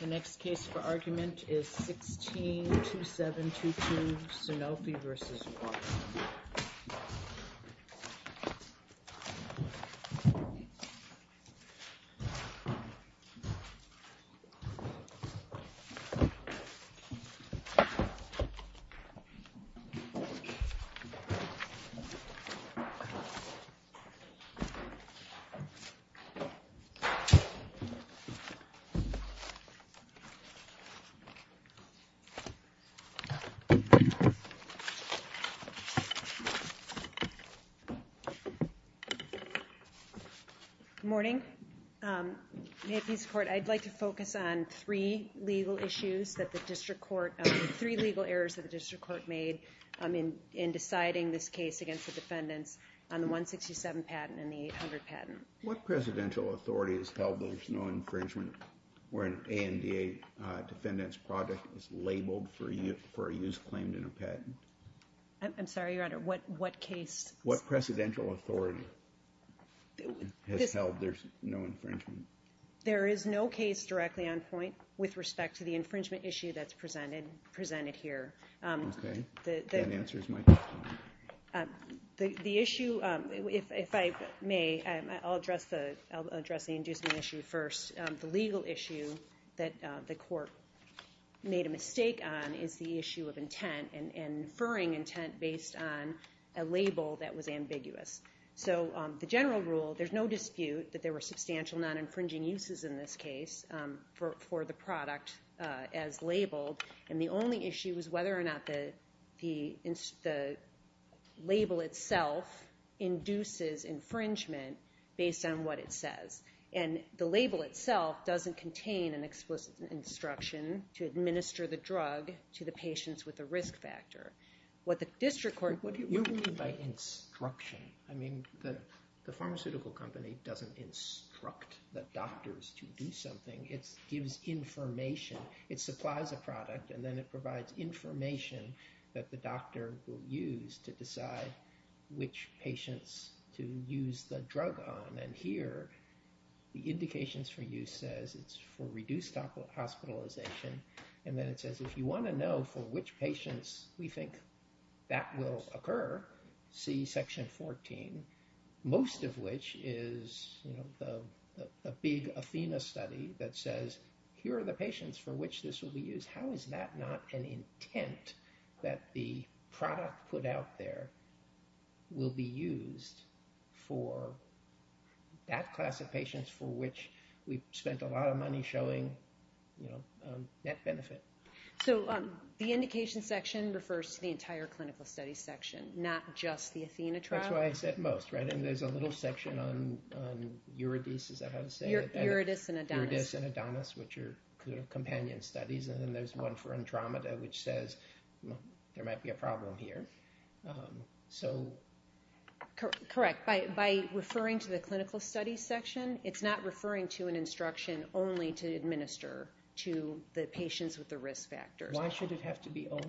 The next case for argument is 16-2722, Sanofi v. Watson. Good morning. May it please the Court, I'd like to focus on three legal issues that the District Court, three legal errors that the District Court made in deciding this case against the defendants on the 167 patent and the 800 patent. What presidential authority has held that there's no infringement where an ANDA defendant's project is labeled for a use claimed in a patent? I'm sorry, Your Honor, what case? What presidential authority has held there's no infringement? There is no case directly on point with respect to the infringement issue that's presented here. Okay, that answers my question. The issue, if I may, I'll address the inducement issue first. The legal issue that the Court made a mistake on is the issue of intent and inferring intent based on a label that was ambiguous. So the general rule, there's no dispute that there were substantial non-infringing uses in this case for the product as labeled, and the only issue was whether or not the label itself induces infringement based on what it says. And the label itself doesn't contain an explicit instruction to administer the drug to the patients with the risk factor. You mean by instruction? I mean, the pharmaceutical company doesn't instruct the doctors to do something. It gives information. It supplies a product, and then it provides information that the doctor will use to decide which patients to use the drug on. And here, the indications for use says it's for reduced hospitalization, and then it says if you want to know for which patients we think that will occur, see section 14, most of which is a big Athena study that says, here are the patients for which this will be used. How is that not an intent that the product put out there will be used for that class of patients for which we spent a lot of money showing net benefit? So the indication section refers to the entire clinical study section, not just the Athena trial? That's why I said most, right? And there's a little section on Uridis, is that how you say it? Uridis and Adonis. Uridis and Adonis, which are companion studies. And then there's one for Andromeda, which says there might be a problem here. So... Correct. By referring to the clinical study section, it's not referring to an instruction only to administer to the patients with the risk factor. Why should it have to be only?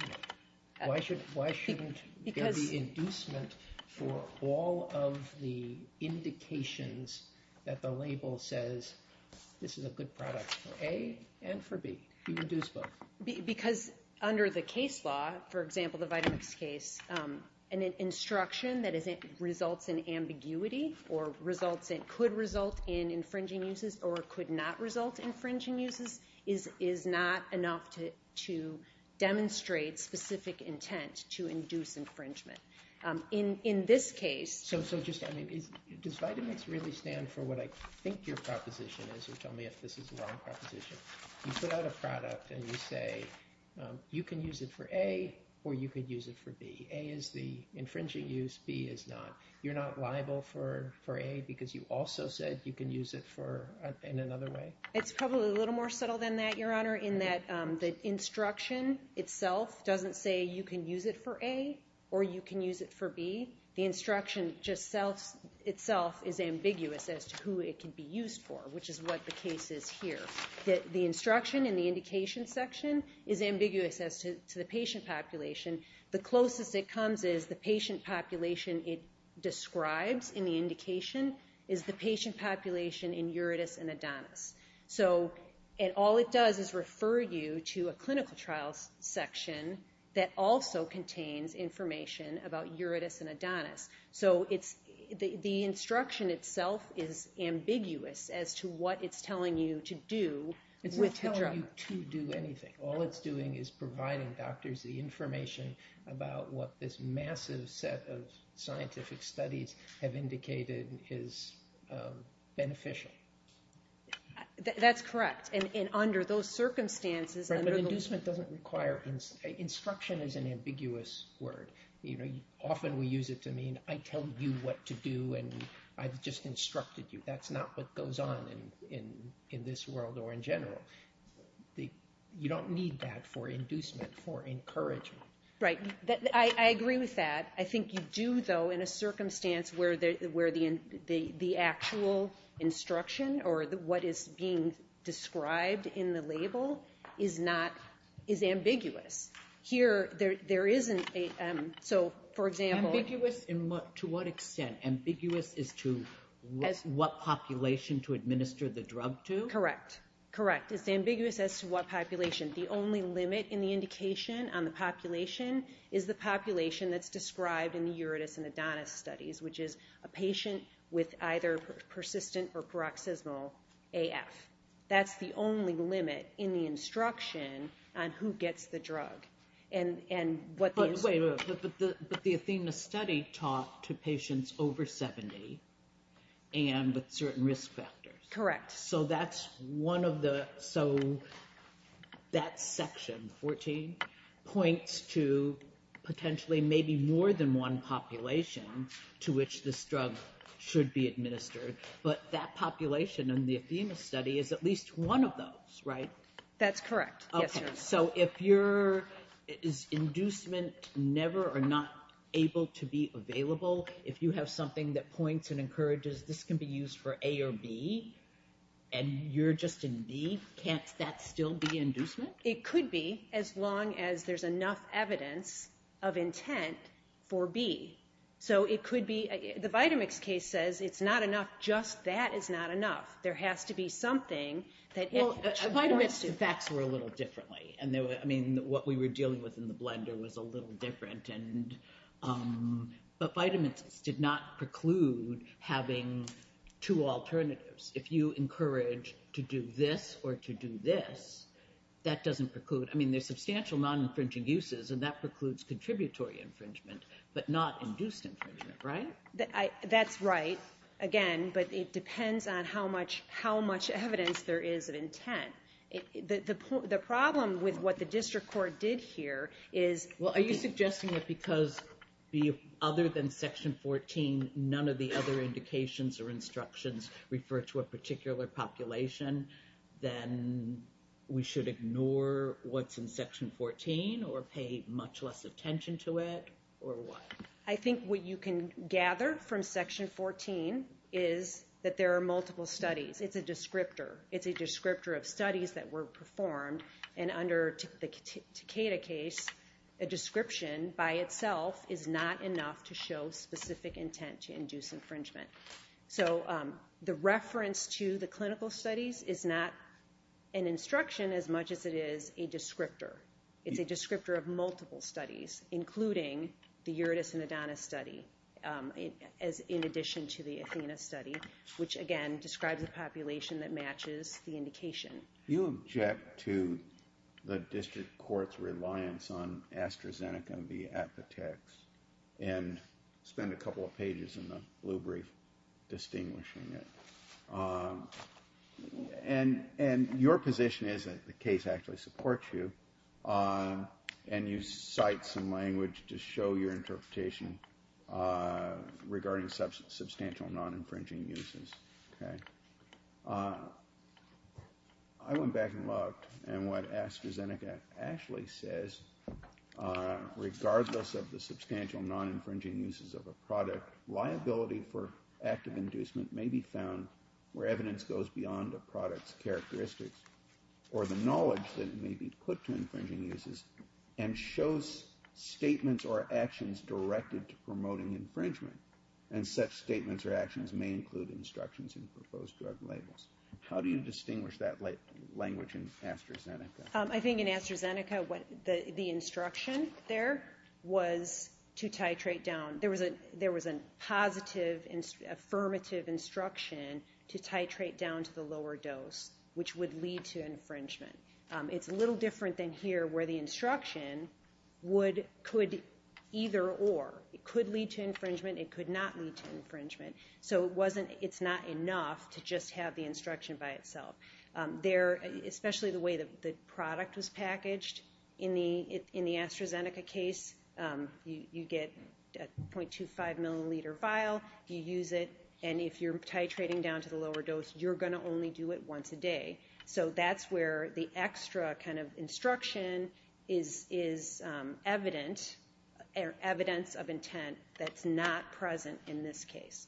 Why shouldn't there be inducement for all of the indications that the label says this is a good product for A and for B? You can induce both. Because under the case law, for example, the Vitamix case, an instruction that results in ambiguity or could result in infringing uses or could not result in infringing uses is not enough to demonstrate specific intent to induce infringement. In this case... So just, I mean, does Vitamix really stand for what I think your proposition is? Or tell me if this is the wrong proposition. You put out a product and you say, you can use it for A or you could use it for B. A is the infringing use, B is not. You're not liable for A because you also said you can use it for... in another way? It's probably a little more subtle than that, Your Honor, in that the instruction itself doesn't say you can use it for A or you can use it for B. The instruction itself is ambiguous as to who it can be used for, which is what the case is here. The instruction in the indication section is ambiguous as to the patient population. The closest it comes is the patient population it describes in the indication is the patient So all it does is refer you to a clinical trial section that also contains information about uretis and adonis. So the instruction itself is ambiguous as to what it's telling you to do with the drug. It's not telling you to do anything. All it's doing is providing doctors the information about what this massive set of scientific studies have indicated is beneficial. That's correct. And under those circumstances... But inducement doesn't require... instruction is an ambiguous word. Often we use it to mean I tell you what to do and I've just instructed you. That's not what goes on in this world or in general. You don't need that for inducement, for encouragement. Right. I agree with that. I think you do, though, in a circumstance where the actual instruction or what is being described in the label is ambiguous. Here, there isn't a... So, for example... Ambiguous to what extent? Ambiguous as to what population to administer the drug to? Correct. Correct. It's ambiguous as to what population. The only limit in the indication on the population is the population that's described in the Uridus and Adonis studies, which is a patient with either persistent or paroxysmal AF. That's the only limit in the instruction on who gets the drug and what... But wait a minute. But the Athena study taught to patients over 70 and with certain risk factors. Correct. So, that's one of the... So, that section, 14, points to potentially maybe more than one population to which this drug should be administered. But that population in the Athena study is at least one of those, right? That's correct. Yes, Your Honor. Okay. So, if your... Is inducement never or not able to be available? If you have something that points and encourages this can be used for A or B and you're just in B, can't that still be inducement? It could be as long as there's enough evidence of intent for B. So, it could be... The Vitamix case says it's not enough. Just that is not enough. There has to be something that... Well, Vitamix facts were a little differently. I mean, what we were dealing with in the blender was a little different. But Vitamix did not preclude having two alternatives. If you encourage to do this or to do this, that doesn't preclude... I mean, there's substantial non-infringing uses and that precludes contributory infringement, but not induced infringement, right? That's right. Again, but it depends on how much evidence there is of intent. The problem with what the district court did here is... Well, are you suggesting that because other than Section 14, none of the other indications or instructions refer to a particular population, then we should ignore what's in Section 14 or pay much less attention to it or what? I think what you can gather from Section 14 is that there are multiple studies. It's a descriptor. It's a descriptor of studies that were performed. And under the Takeda case, a description by itself is not enough to show specific intent to induce infringement. So the reference to the clinical studies is not an instruction as much as it is a descriptor. It's a descriptor of multiple studies, including the Uridus and Adonis study, in addition to the Athena study, You object to the district court's reliance on AstraZeneca and the Apotex and spend a couple of pages in the blue brief distinguishing it. And your position is that the case actually supports you, and you cite some language to show your interpretation regarding substantial non-infringing uses. I went back and looked, and what AstraZeneca actually says, regardless of the substantial non-infringing uses of a product, liability for active inducement may be found where evidence goes beyond the product's characteristics or the knowledge that it may be put to infringing uses and shows statements or actions directed to promoting infringement. And such statements or actions may include instructions in proposed drug labels. How do you distinguish that language in AstraZeneca? I think in AstraZeneca, the instruction there was to titrate down. There was a positive, affirmative instruction to titrate down to the lower dose, which would lead to infringement. It's a little different than here, where the instruction could either or. It could lead to infringement, it could not lead to infringement. So it's not enough to just have the instruction by itself. Especially the way the product was packaged, in the AstraZeneca case, you get a 0.25 milliliter vial, you use it, and if you're titrating down to the lower dose, you're going to only do it once a day. So that's where the extra kind of instruction is evidence of intent that's not present in this case.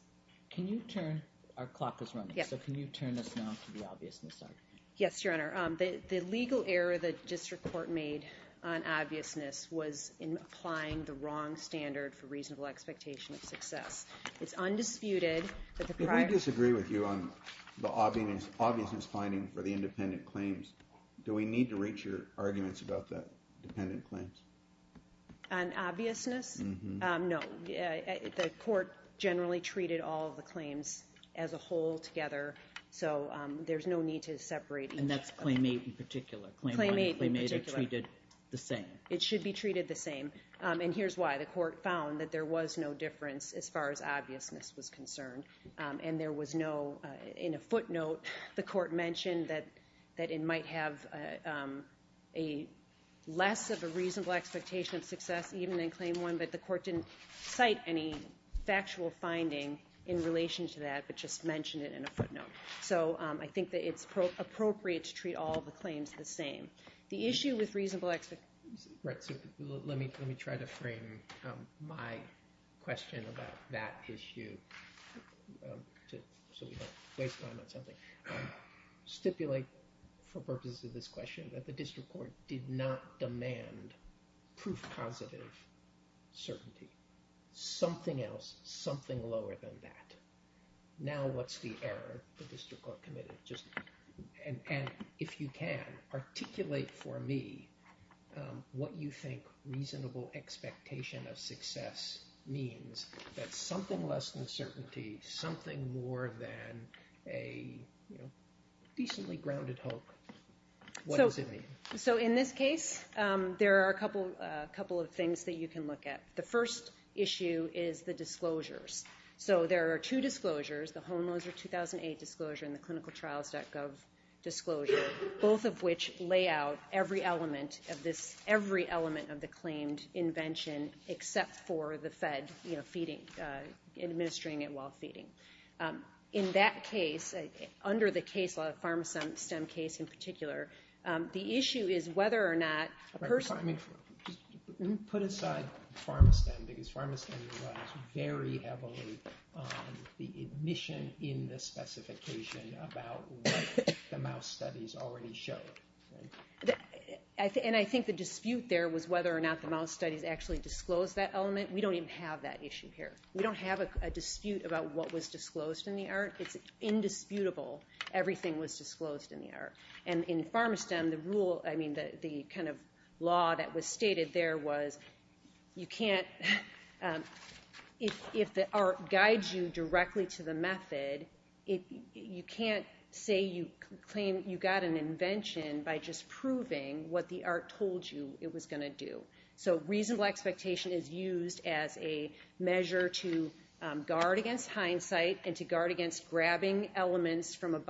Can you turn? Our clock is running. So can you turn us now to the obviousness side? Yes, Your Honor. The legal error the district court made on obviousness was in applying the wrong standard for reasonable expectation of success. It's undisputed that the prior... If we disagree with you on the obviousness finding for the independent claims, do we need to reach your arguments about the dependent claims? On obviousness? No. The court generally treated all of the claims as a whole together, so there's no need to separate each of them. And that's claim eight in particular? Claim eight in particular. Claim one and claim eight are treated the same? It should be treated the same. And here's why. The court found that there was no difference as far as obviousness was concerned, and there was no... In a footnote, the court mentioned that it might have less of a reasonable expectation of success even in claim one, but the court didn't cite any factual finding in relation to that, but just mentioned it in a footnote. So I think that it's appropriate to treat all the claims the same. The issue with reasonable... Let me try to frame my question about that issue so we don't waste time on something. Stipulate for purposes of this question that the district court did not demand proof positive certainty. Something else, something lower than that. Now what's the error the district court committed? And if you can, articulate for me what you think reasonable expectation of success means. That's something less than certainty, something more than a decently grounded hope. What does it mean? So in this case, there are a couple of things that you can look at. The first issue is the disclosures. So there are two disclosures, the Hohenloser 2008 disclosure and the clinicaltrials.gov disclosure, both of which lay out every element of the claimed invention except for the Fed administering it while feeding. In that case, under the case law, the Pharmastem case in particular, the issue is whether or not a person... Let me put aside Pharmastem because Pharmastem relies very heavily on the admission in the specification about what the mouse studies already show. And I think the dispute there was whether or not the mouse studies actually disclosed that element. We don't even have that issue here. We don't have a dispute about what was disclosed in the art. It's indisputable everything was disclosed in the art. And in Pharmastem, the rule, I mean, the kind of law that was stated there was you can't... If the art guides you directly to the method, you can't say you claim you got an invention by just proving what the art told you it was going to do. So reasonable expectation is used as a measure to guard against hindsight and to guard against grabbing elements from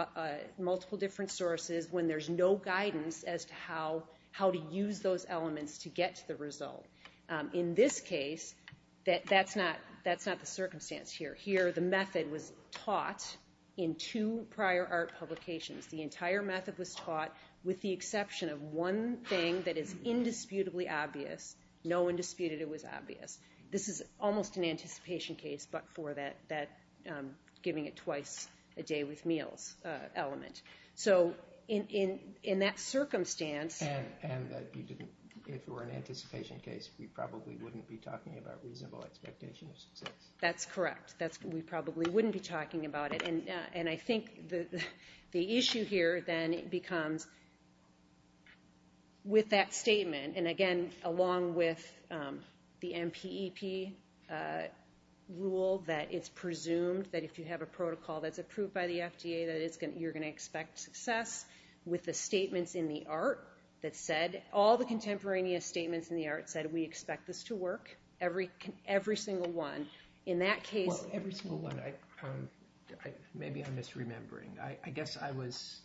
multiple different sources when there's no guidance as to how to use those elements to get to the result. In this case, that's not the circumstance here. Here the method was taught in two prior art publications. The entire method was taught with the exception of one thing that is indisputably obvious. No one disputed it was obvious. This is almost an anticipation case, but for that giving it twice a day with meals element. So in that circumstance... And that if it were an anticipation case, we probably wouldn't be talking about reasonable expectation of success. That's correct. We probably wouldn't be talking about it. And I think the issue here then becomes with that statement, and again, along with the MPEP rule that it's presumed that if you have a protocol that's approved by the FDA that you're going to expect success with the statements in the art that said, all the contemporaneous statements in the art said we expect this to work, every single one. In that case... Well, every single one. Maybe I'm misremembering. I guess I was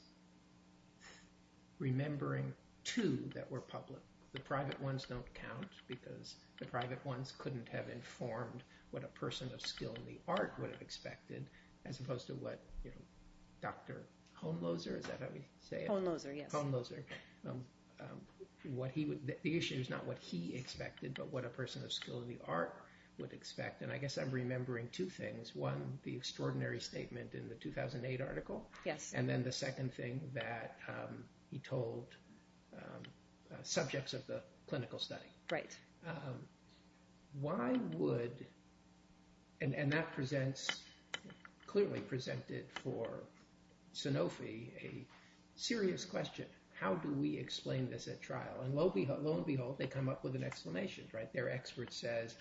remembering two that were public. The private ones don't count because the private ones couldn't have informed what a person of skill in the art would have expected as opposed to what Dr. Homloser, is that how you say it? Homloser, yes. Homloser. The issue is not what he expected, but what a person of skill in the art would expect. And I guess I'm remembering two things. One, the extraordinary statement in the 2008 article. Yes. And then the second thing that he told subjects of the clinical study. Right. Why would, and that clearly presented for Sanofi a serious question. How do we explain this at trial? And lo and behold, they come up with an explanation, right? Their expert says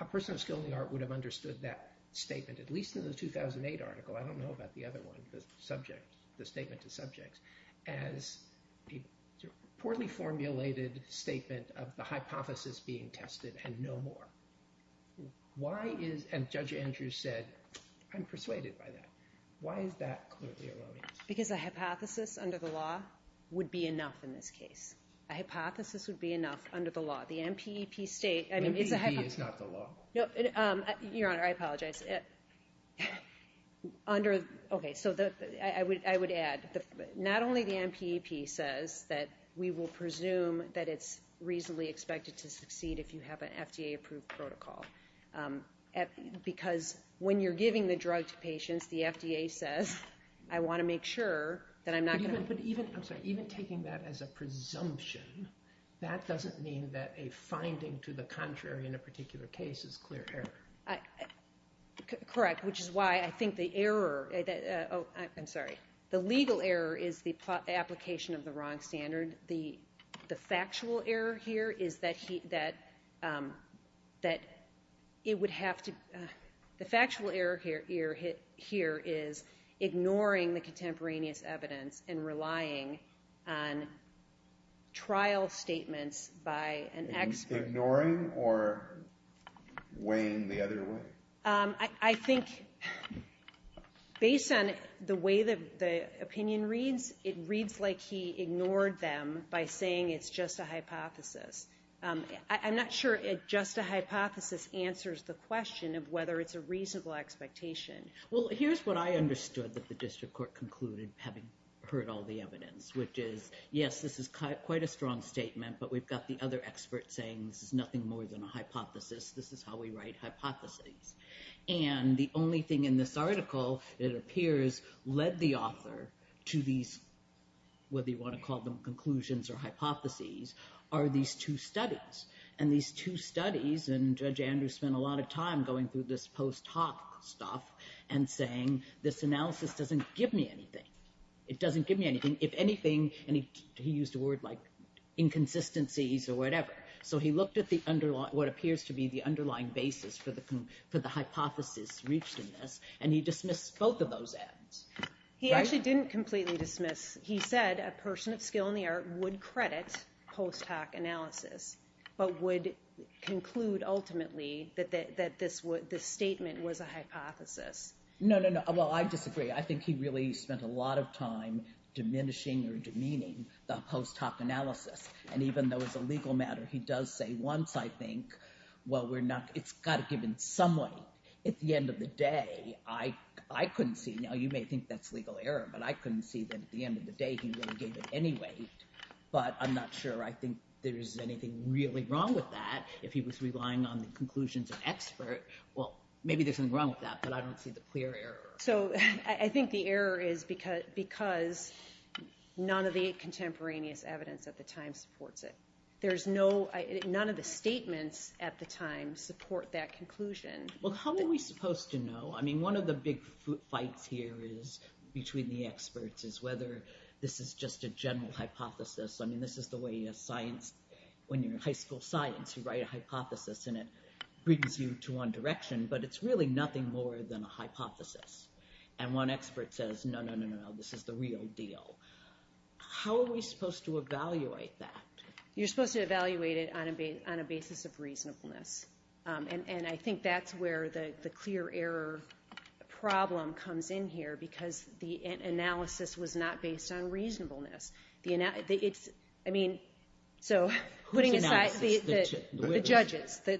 a person of skill in the art would have understood that statement, at least in the 2008 article. I don't know about the other one, the statement to subjects, as a poorly formulated statement of the hypothesis being tested and no more. Why is, and Judge Andrews said, I'm persuaded by that. Why is that clearly erroneous? Because a hypothesis under the law would be enough in this case. A hypothesis would be enough under the law. The MPEP state, I mean, is a hypothesis. MPEP is not the law. Your Honor, I apologize. Under, okay, so I would add, not only the MPEP says that we will presume that it's reasonably expected to succeed if you have an FDA approved protocol. Because when you're giving the drug to patients, the FDA says, I want to make sure that I'm not going to. But even, I'm sorry, even taking that as a presumption, that doesn't mean that a finding to the contrary in a particular case is clear error. Correct, which is why I think the error, oh, I'm sorry. The legal error is the application of the wrong standard. And the factual error here is that it would have to, the factual error here is ignoring the contemporaneous evidence and relying on trial statements by an expert. Ignoring or weighing the other way? I think, based on the way the opinion reads, it reads like he ignored them by saying it's just a hypothesis. I'm not sure just a hypothesis answers the question of whether it's a reasonable expectation. Well, here's what I understood that the district court concluded, having heard all the evidence, which is, yes, this is quite a strong statement. But we've got the other experts saying this is nothing more than a hypothesis. This is how we write hypotheses. And the only thing in this article, it appears, led the author to these, whether you want to call them conclusions or hypotheses, are these two studies. And these two studies, and Judge Andrew spent a lot of time going through this post hoc stuff and saying, this analysis doesn't give me anything. It doesn't give me anything. And he used a word like inconsistencies or whatever. So he looked at what appears to be the underlying basis for the hypothesis reached in this, and he dismissed both of those ads. He actually didn't completely dismiss. He said a person of skill in the art would credit post hoc analysis, but would conclude, ultimately, that this statement was a hypothesis. No, no, no. Well, I disagree. I think he really spent a lot of time diminishing or demeaning the post hoc analysis. And even though it's a legal matter, he does say once, I think, well, it's got to give in some way. At the end of the day, I couldn't see. Now, you may think that's legal error, but I couldn't see that at the end of the day he really gave it any weight. But I'm not sure I think there is anything really wrong with that. If he was relying on the conclusions of expert, well, maybe there's something wrong with that, but I don't see the clear error. So I think the error is because none of the contemporaneous evidence at the time supports it. There's no, none of the statements at the time support that conclusion. Well, how are we supposed to know? I mean, one of the big fights here is, between the experts, is whether this is just a general hypothesis. I mean, this is the way science, when you're in high school science, you write a hypothesis, and it brings you to one direction. But it's really nothing more than a hypothesis. And one expert says, no, no, no, no, this is the real deal. How are we supposed to evaluate that? You're supposed to evaluate it on a basis of reasonableness. And I think that's where the clear error problem comes in here, because the analysis was not based on reasonableness. I mean, so... Whose analysis? The judges. The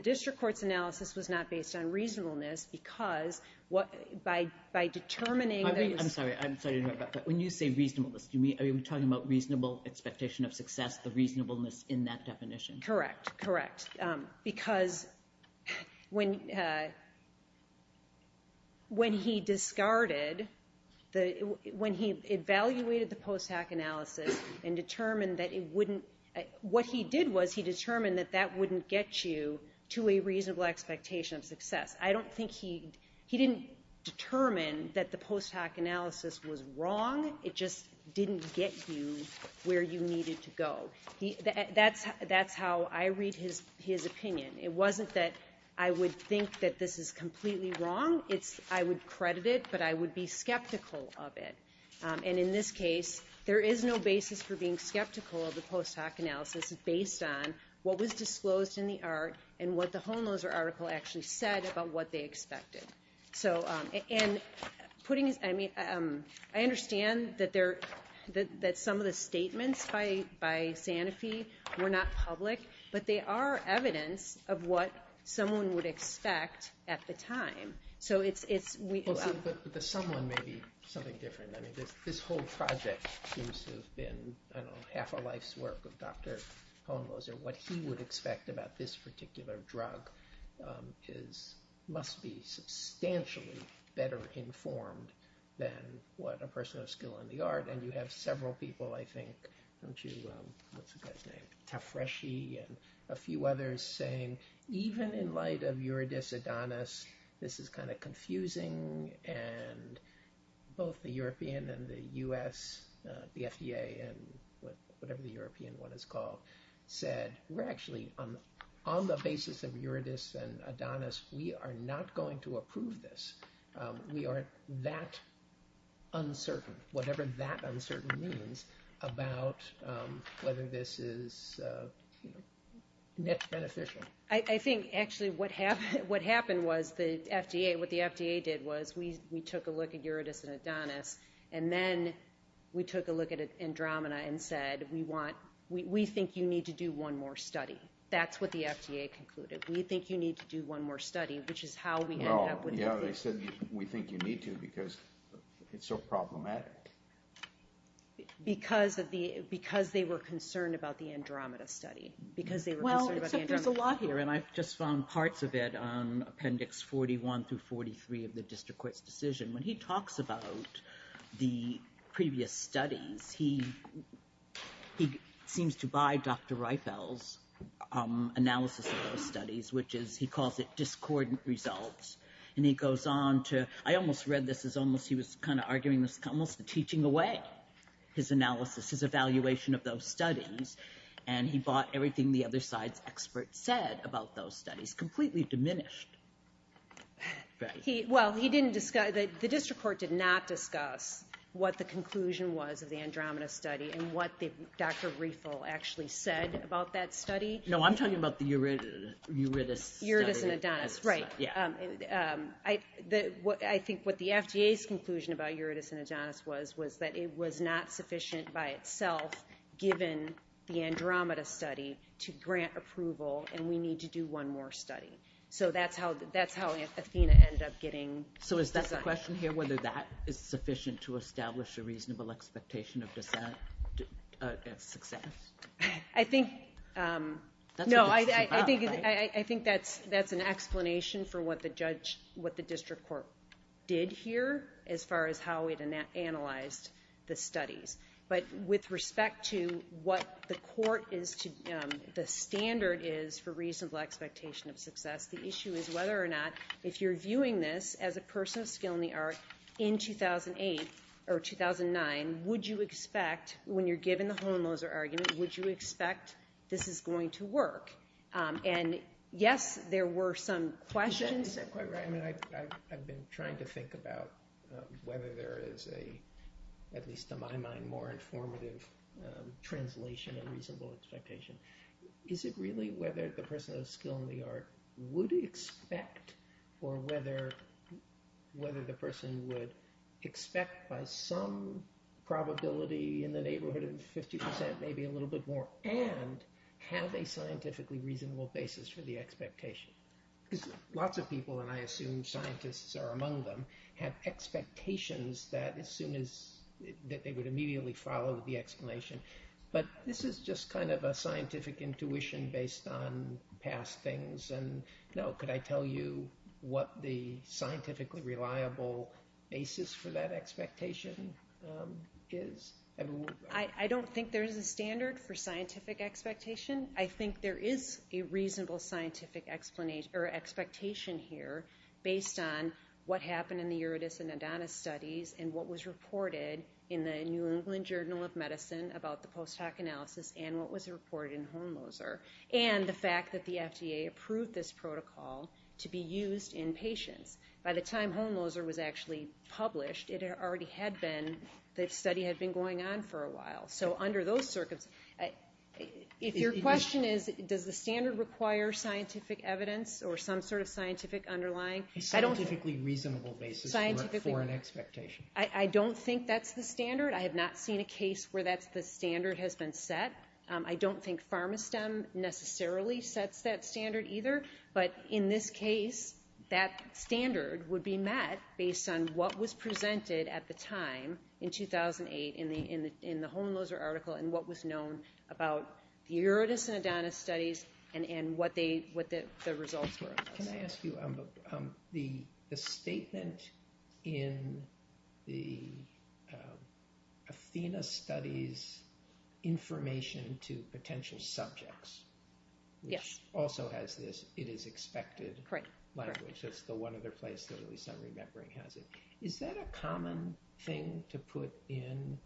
district court's analysis was not based on reasonableness, because by determining... I'm sorry, I'm sorry to interrupt, but when you say reasonableness, are you talking about reasonable expectation of success, the reasonableness in that definition? Correct, correct. Because when he discarded... When he evaluated the post-hack analysis and determined that it wouldn't... What he did was he determined that that wouldn't get you to a reasonable expectation of success. I don't think he... He didn't determine that the post-hack analysis was wrong. It just didn't get you where you needed to go. That's how I read his opinion. It wasn't that I would think that this is completely wrong. It's I would credit it, but I would be skeptical of it. And in this case, there is no basis for being skeptical of the post-hack analysis based on what was disclosed in the art and what the Holmhoser article actually said about what they expected. And putting... I understand that some of the statements by Sanofi were not public, but they are evidence of what someone would expect at the time. So it's... But the someone may be something different. This whole project seems to have been half a life's work of Dr. Holmhoser. What he would expect about this particular drug must be substantially better informed than what a person of skill in the art. And you have several people, I think, don't you? What's the guy's name? And a few others saying, even in light of Eurydice Adonis, this is kind of confusing. And both the European and the US, the FDA and whatever the European one is called, said, we're actually on the basis of Eurydice and Adonis. We are not going to approve this. We are that uncertain, whatever that uncertain means about whether this is net beneficial. I think actually what happened was the FDA, what the FDA did was we took a look at Eurydice and Adonis. And then we took a look at Andromeda and said, we think you need to do one more study. That's what the FDA concluded. We think you need to do one more study, which is how we end up with this. Yeah, they said, we think you need to, because it's so problematic. Because they were concerned about the Andromeda study. Because they were concerned about the Andromeda study. Well, there's a lot here. And I've just found parts of it on appendix 41 through 43 of the district court's decision. When he talks about the previous studies, he seems to buy Dr. Reifel's analysis of those studies, which he calls it discordant results. And he goes on to, I almost read this as almost he was kind of arguing this, almost teaching away his analysis, his evaluation of those studies. And he bought everything the other side's experts said about those studies, completely diminished. Well, he didn't discuss, the district court did not discuss what the conclusion was of the Andromeda study and what Dr. Reifel actually said about that study. No, I'm talking about the Eurydice study. Eurydice, right. I think what the FDA's conclusion about Eurydice and Adonis was, was that it was not sufficient by itself, given the Andromeda study, to grant approval, and we need to do one more study. So that's how Athena ended up getting designed. So is that the question here, whether that is sufficient to establish a reasonable expectation of success? I think, no, I think that's an explanation for what the judge, what the district court did here, as far as how it analyzed the studies. But with respect to what the court is, the standard is for reasonable expectation of success, the issue is whether or not, if you're viewing this as a person of skill in the art, in 2008 or 2009, would you expect, when you're given the Hohenloser argument, would you expect this is going to work? And yes, there were some questions. I've been trying to think about whether there is a, at least to my mind, more informative translation of reasonable expectation. Is it really whether the person of skill in the art would expect, or whether the person would expect by some probability in the neighborhood of 50%, maybe a little bit more, and have a scientifically reasonable basis for the expectation? Because lots of people, and I assume scientists are among them, have expectations that as soon as, that they would immediately follow the explanation. But this is just kind of a scientific intuition based on past things, and, no, could I tell you what the scientifically reliable basis for that expectation is? I don't think there is a standard for scientific expectation. I think there is a reasonable scientific expectation here based on what happened in the Uridus and Adonis studies, and what was reported in the New England Journal of Medicine about the post hoc analysis, and what was reported in Hohenloser. And the fact that the FDA approved this protocol to be used in patients. By the time Hohenloser was actually published, it already had been, the study had been going on for a while. So under those circumstances, if your question is, does the standard require scientific evidence or some sort of scientific underlying? A scientifically reasonable basis for an expectation. I don't think that's the standard. I have not seen a case where that's the standard has been set. I don't think PharmaSTEM necessarily sets that standard either. But in this case, that standard would be met based on what was presented at the time in 2008 in the Hohenloser article, and what was known about the Uridus and Adonis studies, and what the results were. Can I ask you, the statement in the Athena studies information to potential subjects. Yes. Also has this, it is expected. Correct. Language, that's the one other place that at least I'm remembering has it. Is that a common thing to put in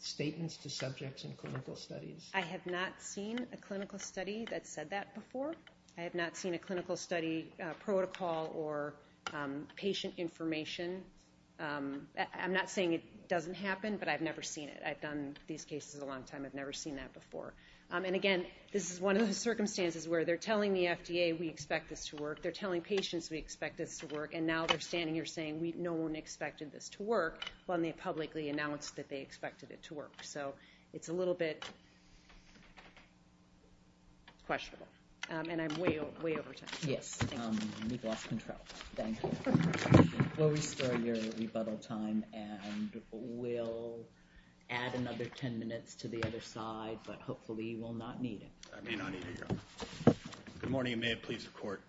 statements to subjects in clinical studies? I have not seen a clinical study that said that before. I have not seen a clinical study protocol or patient information. I'm not saying it doesn't happen, but I've never seen it. I've done these cases a long time. I've never seen that before. And again, this is one of those circumstances where they're telling the FDA we expect this to work. They're telling patients we expect this to work. And now they're standing here saying no one expected this to work when they publicly announced that they expected it to work. So it's a little bit questionable. And I'm way over time. Yes. We've lost control. Thank you. We'll restore your rebuttal time and we'll add another ten minutes to the other side, but hopefully you will not need it. I may not need it, Your Honor. Good morning, and may it please the Court.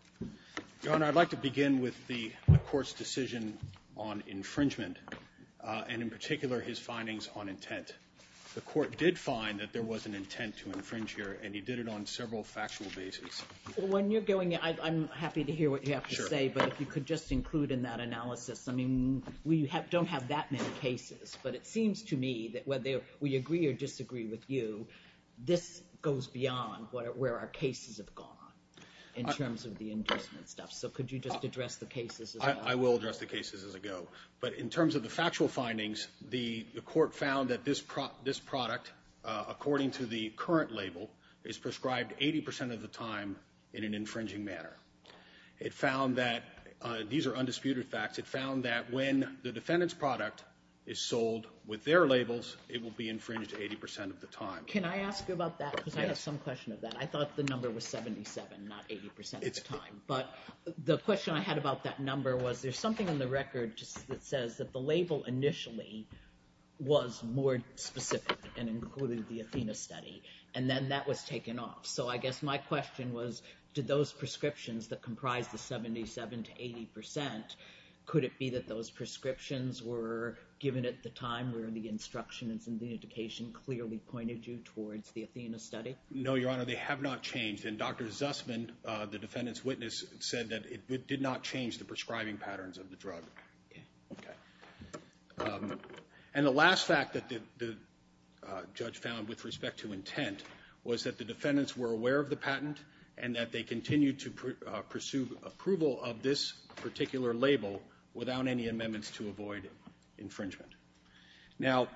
Your Honor, I'd like to begin with the Court's decision on infringement and, in particular, his findings on intent. The Court did find that there was an intent to infringe here, and he did it on several factual bases. When you're going, I'm happy to hear what you have to say, but if you could just include in that analysis, I mean, we don't have that many cases. But it seems to me that whether we agree or disagree with you, this goes beyond where our cases have gone in terms of the inducement stuff. So could you just address the cases as I go? I will address the cases as I go. But in terms of the factual findings, the Court found that this product, according to the current label, is prescribed 80 percent of the time in an infringing manner. It found that these are undisputed facts. It found that when the defendant's product is sold with their labels, it will be infringed 80 percent of the time. Can I ask you about that? Yes. Because I have some question of that. I thought the number was 77, not 80 percent of the time. But the question I had about that number was there's something in the record that says that the label initially was more specific and included the Athena study, and then that was taken off. So I guess my question was, did those prescriptions that comprise the 77 to 80 percent, could it be that those prescriptions were given at the time where the instructions and the indication clearly pointed you towards the Athena study? No, Your Honor. They have not changed. And Dr. Zussman, the defendant's witness, said that it did not change the prescribing patterns of the drug. Okay. And the last fact that the judge found with respect to intent was that the defendants were aware of the patent and that they continued to pursue approval of this particular label without any amendments to avoid infringement. Now,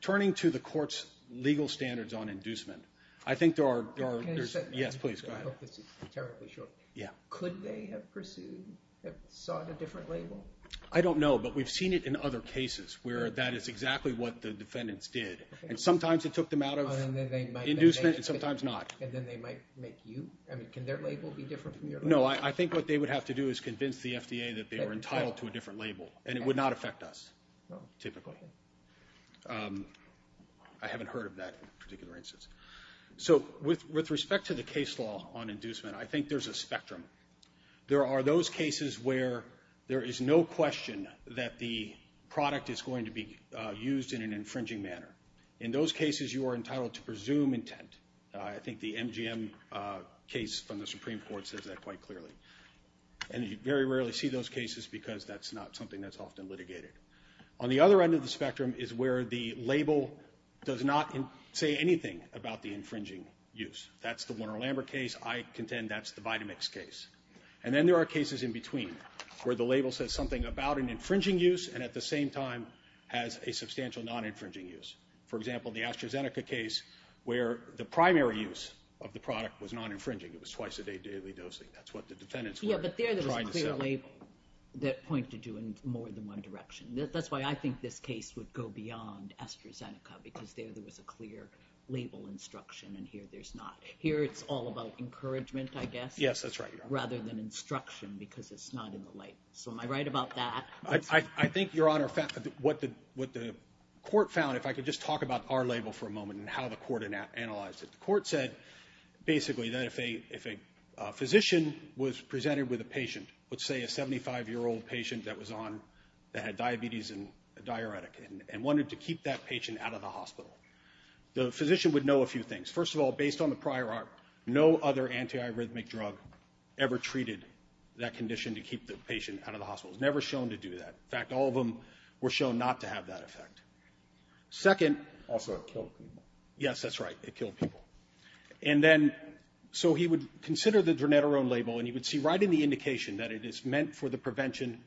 turning to the court's legal standards on inducement, I think there are – Can I just – Yes, please, go ahead. I hope this is rhetorically short. Yeah. Could they have pursued – have sought a different label? I don't know, but we've seen it in other cases where that is exactly what the defendants did. And sometimes it took them out of inducement and sometimes not. And then they might make you – I mean, can their label be different from your label? No, I think what they would have to do is convince the FDA that they were entitled to a different label, and it would not affect us typically. Okay. I haven't heard of that particular instance. So with respect to the case law on inducement, I think there's a spectrum. There are those cases where there is no question that the product is going to be used in an infringing manner. In those cases, you are entitled to presume intent. I think the MGM case from the Supreme Court says that quite clearly. And you very rarely see those cases because that's not something that's often litigated. On the other end of the spectrum is where the label does not say anything about the infringing use. That's the Warner-Lambert case. I contend that's the Vitamix case. And then there are cases in between where the label says something about an infringing use and at the same time has a substantial non-infringing use. For example, the AstraZeneca case where the primary use of the product was non-infringing. It was twice-a-day daily dosing. That's what the defendants were trying to say. That point to do in more than one direction. That's why I think this case would go beyond AstraZeneca because there was a clear label instruction and here there's not. Here it's all about encouragement, I guess. Yes, that's right, Your Honor. Rather than instruction because it's not in the light. So am I right about that? I think, Your Honor, what the court found, if I could just talk about our label for a moment and how the court analyzed it. The court said basically that if a physician was presented with a patient, let's say a 75-year-old patient that had diabetes and a diuretic and wanted to keep that patient out of the hospital, the physician would know a few things. First of all, based on the prior art, no other anti-arrhythmic drug ever treated that condition to keep the patient out of the hospital. It was never shown to do that. In fact, all of them were shown not to have that effect. Also, it killed people. Yes, that's right, it killed people. And then so he would consider the dronetarone label and he would see right in the indication that it is meant for the prevention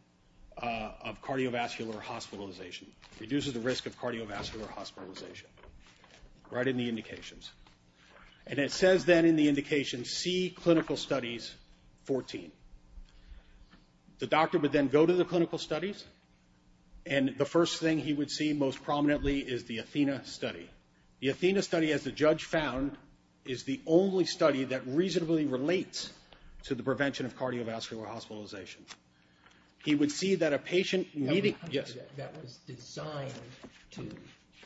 of cardiovascular hospitalization, reduces the risk of cardiovascular hospitalization, right in the indications. And it says then in the indication, see clinical studies 14. The doctor would then go to the clinical studies and the first thing he would see most prominently is the athena study. The athena study, as the judge found, is the only study that reasonably relates to the prevention of cardiovascular hospitalization. He would see that a patient needing... That was designed to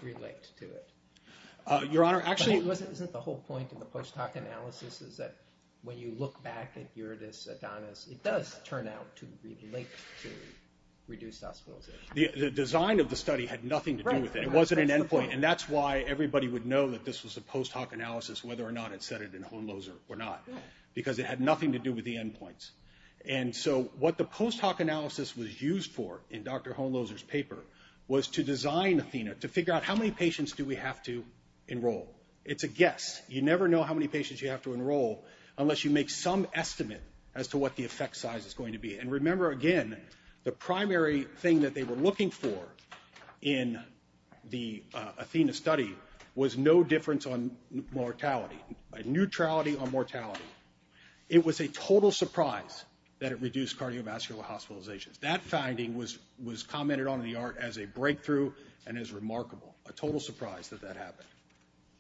relate to it. Your Honor, actually... But isn't the whole point of the post hoc analysis is that when you look back at Iridis-Adonis, it does turn out to relate to reduced hospitalization. The design of the study had nothing to do with it. It wasn't an end point. And that's why everybody would know that this was a post hoc analysis, whether or not it said it in Hohenloser or not, because it had nothing to do with the end points. And so what the post hoc analysis was used for in Dr. Hohenloser's paper was to design athena to figure out how many patients do we have to enroll. It's a guess. You never know how many patients you have to enroll unless you make some estimate as to what the effect size is going to be. And remember, again, the primary thing that they were looking for in the athena study was no difference on mortality, neutrality on mortality. It was a total surprise that it reduced cardiovascular hospitalizations. That finding was commented on in the art as a breakthrough and as remarkable, a total surprise that that happened.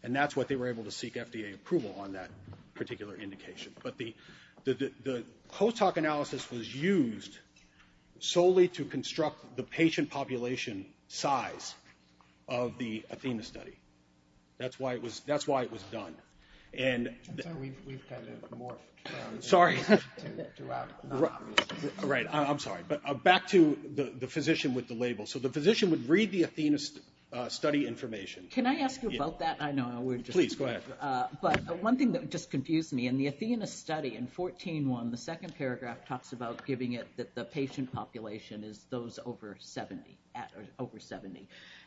And that's what they were able to seek FDA approval on that particular indication. But the post hoc analysis was used solely to construct the patient population size of the athena study. That's why it was done. And we've kind of morphed. Sorry. Right. I'm sorry. But back to the physician with the label. So the physician would read the athena study information. Can I ask you about that? Please, go ahead. But one thing that just confused me, in the athena study, in 14.1, the second paragraph talks about giving it that the patient population is those over 70.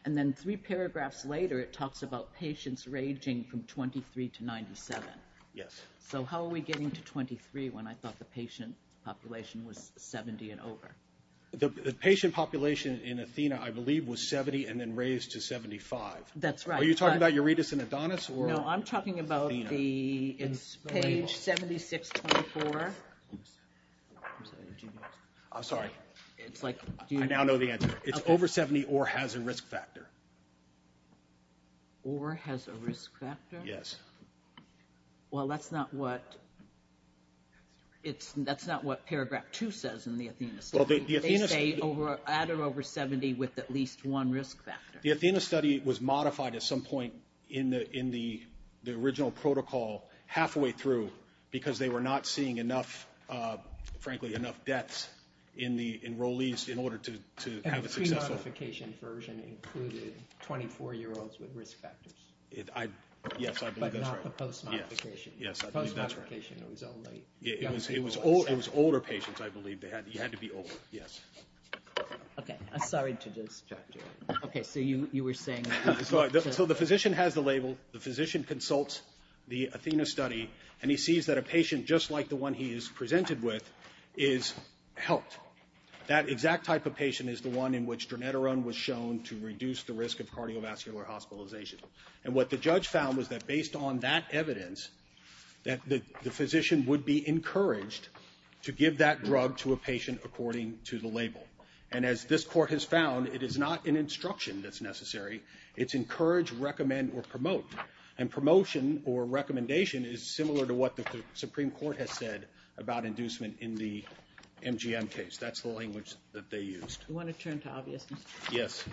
And then three paragraphs later it talks about patients ranging from 23 to 97. Yes. So how are we getting to 23 when I thought the patient population was 70 and over? The patient population in athena, I believe, was 70 and then raised to 75. That's right. Are you talking about uretis and adonis? No, I'm talking about the page 76.24. I'm sorry. I now know the answer. It's over 70 or has a risk factor. Or has a risk factor? Yes. Well, that's not what paragraph two says in the athena study. They say at or over 70 with at least one risk factor. The athena study was modified at some point in the original protocol halfway through because they were not seeing, frankly, enough deaths in the enrollees in order to have a successful. And the pre-modification version included 24-year-olds with risk factors. Yes, I believe that's right. But not the post-modification. Yes, I believe that's right. Post-modification, it was only young people. It was older patients, I believe. You had to be older. Yes. Okay. I'm sorry to distract you. Okay, so you were saying. So the physician has the label. The physician consults the athena study. And he sees that a patient just like the one he is presented with is helped. That exact type of patient is the one in which dronetarone was shown to reduce the risk of cardiovascular hospitalization. And what the judge found was that based on that evidence, that the physician would be encouraged to give that drug to a patient according to the label. And as this court has found, it is not an instruction that's necessary. It's encourage, recommend, or promote. And promotion or recommendation is similar to what the Supreme Court has said about inducement in the MGM case. That's the language that they used. Do you want to turn to obviousness? Yes.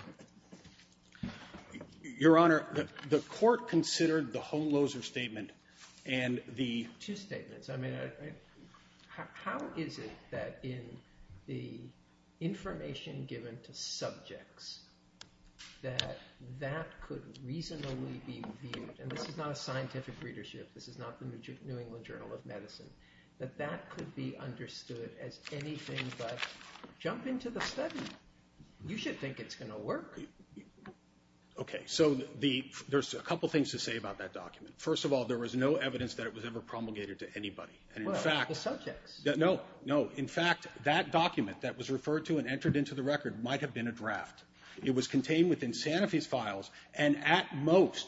Your Honor, the court considered the Holmloser statement and the... Two statements. I mean, how is it that in the information given to subjects that that could reasonably be viewed... And this is not a scientific readership. This is not the New England Journal of Medicine. That that could be understood as anything but jump into the study. You should think it's going to work. Okay, so there's a couple things to say about that document. First of all, there was no evidence that it was ever promulgated to anybody. Well, the subjects. No, no. In fact, that document that was referred to and entered into the record might have been a draft. It was contained within Sanofi's files and at most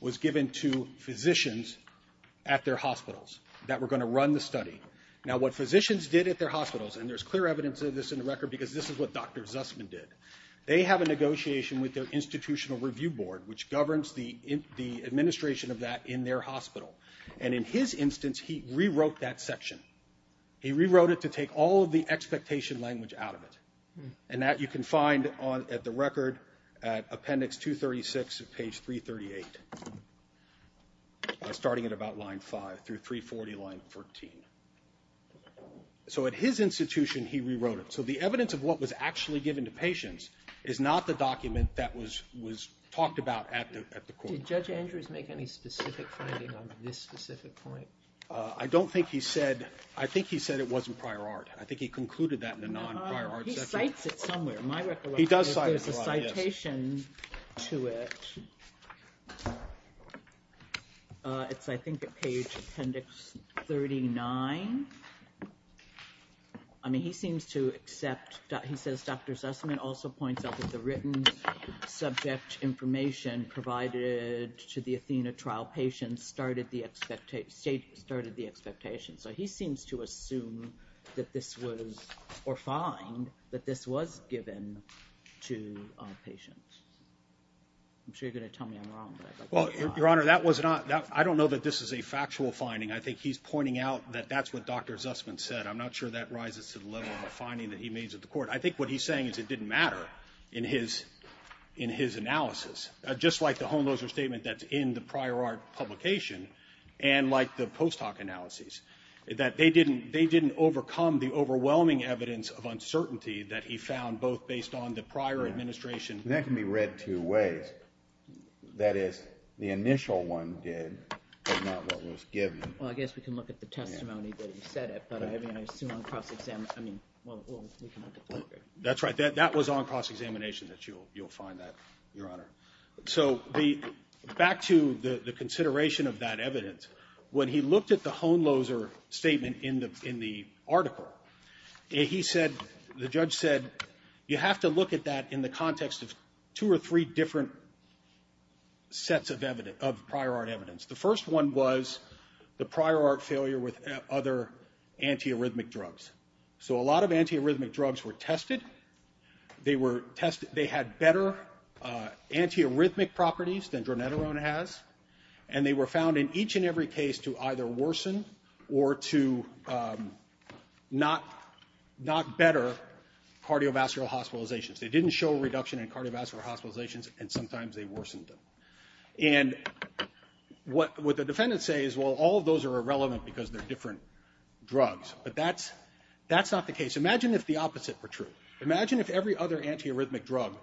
was given to physicians at their hospitals that were going to run the study. Now, what physicians did at their hospitals, and there's clear evidence of this in the record because this is what Dr. Zussman did. They have a negotiation with their institutional review board, which governs the administration of that in their hospital. And in his instance, he rewrote that section. He rewrote it to take all of the expectation language out of it. And that you can find at the record at appendix 236 of page 338, starting at about line 5 through 340 line 14. So at his institution, he rewrote it. So the evidence of what was actually given to patients is not the document that was talked about at the court. Did Judge Andrews make any specific finding on this specific point? I don't think he said. I think he said it wasn't prior art. I think he concluded that in a non-prior art section. He cites it somewhere. My recollection is there's a citation to it. It's, I think, at page appendix 39. I mean, he seems to accept. He says Dr. Zussman also points out that the written subject information provided to the Athena trial patients started the expectation. So he seems to assume that this was or find that this was given to patients. I'm sure you're going to tell me I'm wrong. Well, Your Honor, that was not. I don't know that this is a factual finding. I think he's pointing out that that's what Dr. Zussman said. I'm not sure that rises to the level of a finding that he made to the court. I think what he's saying is it didn't matter in his analysis. Just like the homeloser statement that's in the prior art publication and like the post hoc analyses, that they didn't overcome the overwhelming evidence of uncertainty that he found both based on the prior administration. That can be read two ways. That is, the initial one did, but not what was given. Well, I guess we can look at the testimony that he said it, but I mean, I assume on cross-examination. I mean, well, we can look at that. That's right. That was on cross-examination that you'll find that, Your Honor. So back to the consideration of that evidence, when he looked at the homeloser statement in the article, he said, the judge said, you have to look at that in the context of two or three different sets of prior art evidence. The first one was the prior art failure with other antiarrhythmic drugs. So a lot of antiarrhythmic drugs were tested. They had better antiarrhythmic properties than dronetarone has, and they were found in each and every case to either worsen or to not better cardiovascular hospitalizations. They didn't show a reduction in cardiovascular hospitalizations, and sometimes they worsened them. And what the defendants say is, well, all of those are irrelevant because they're different drugs. But that's not the case. Imagine if the opposite were true. Imagine if every other antiarrhythmic drug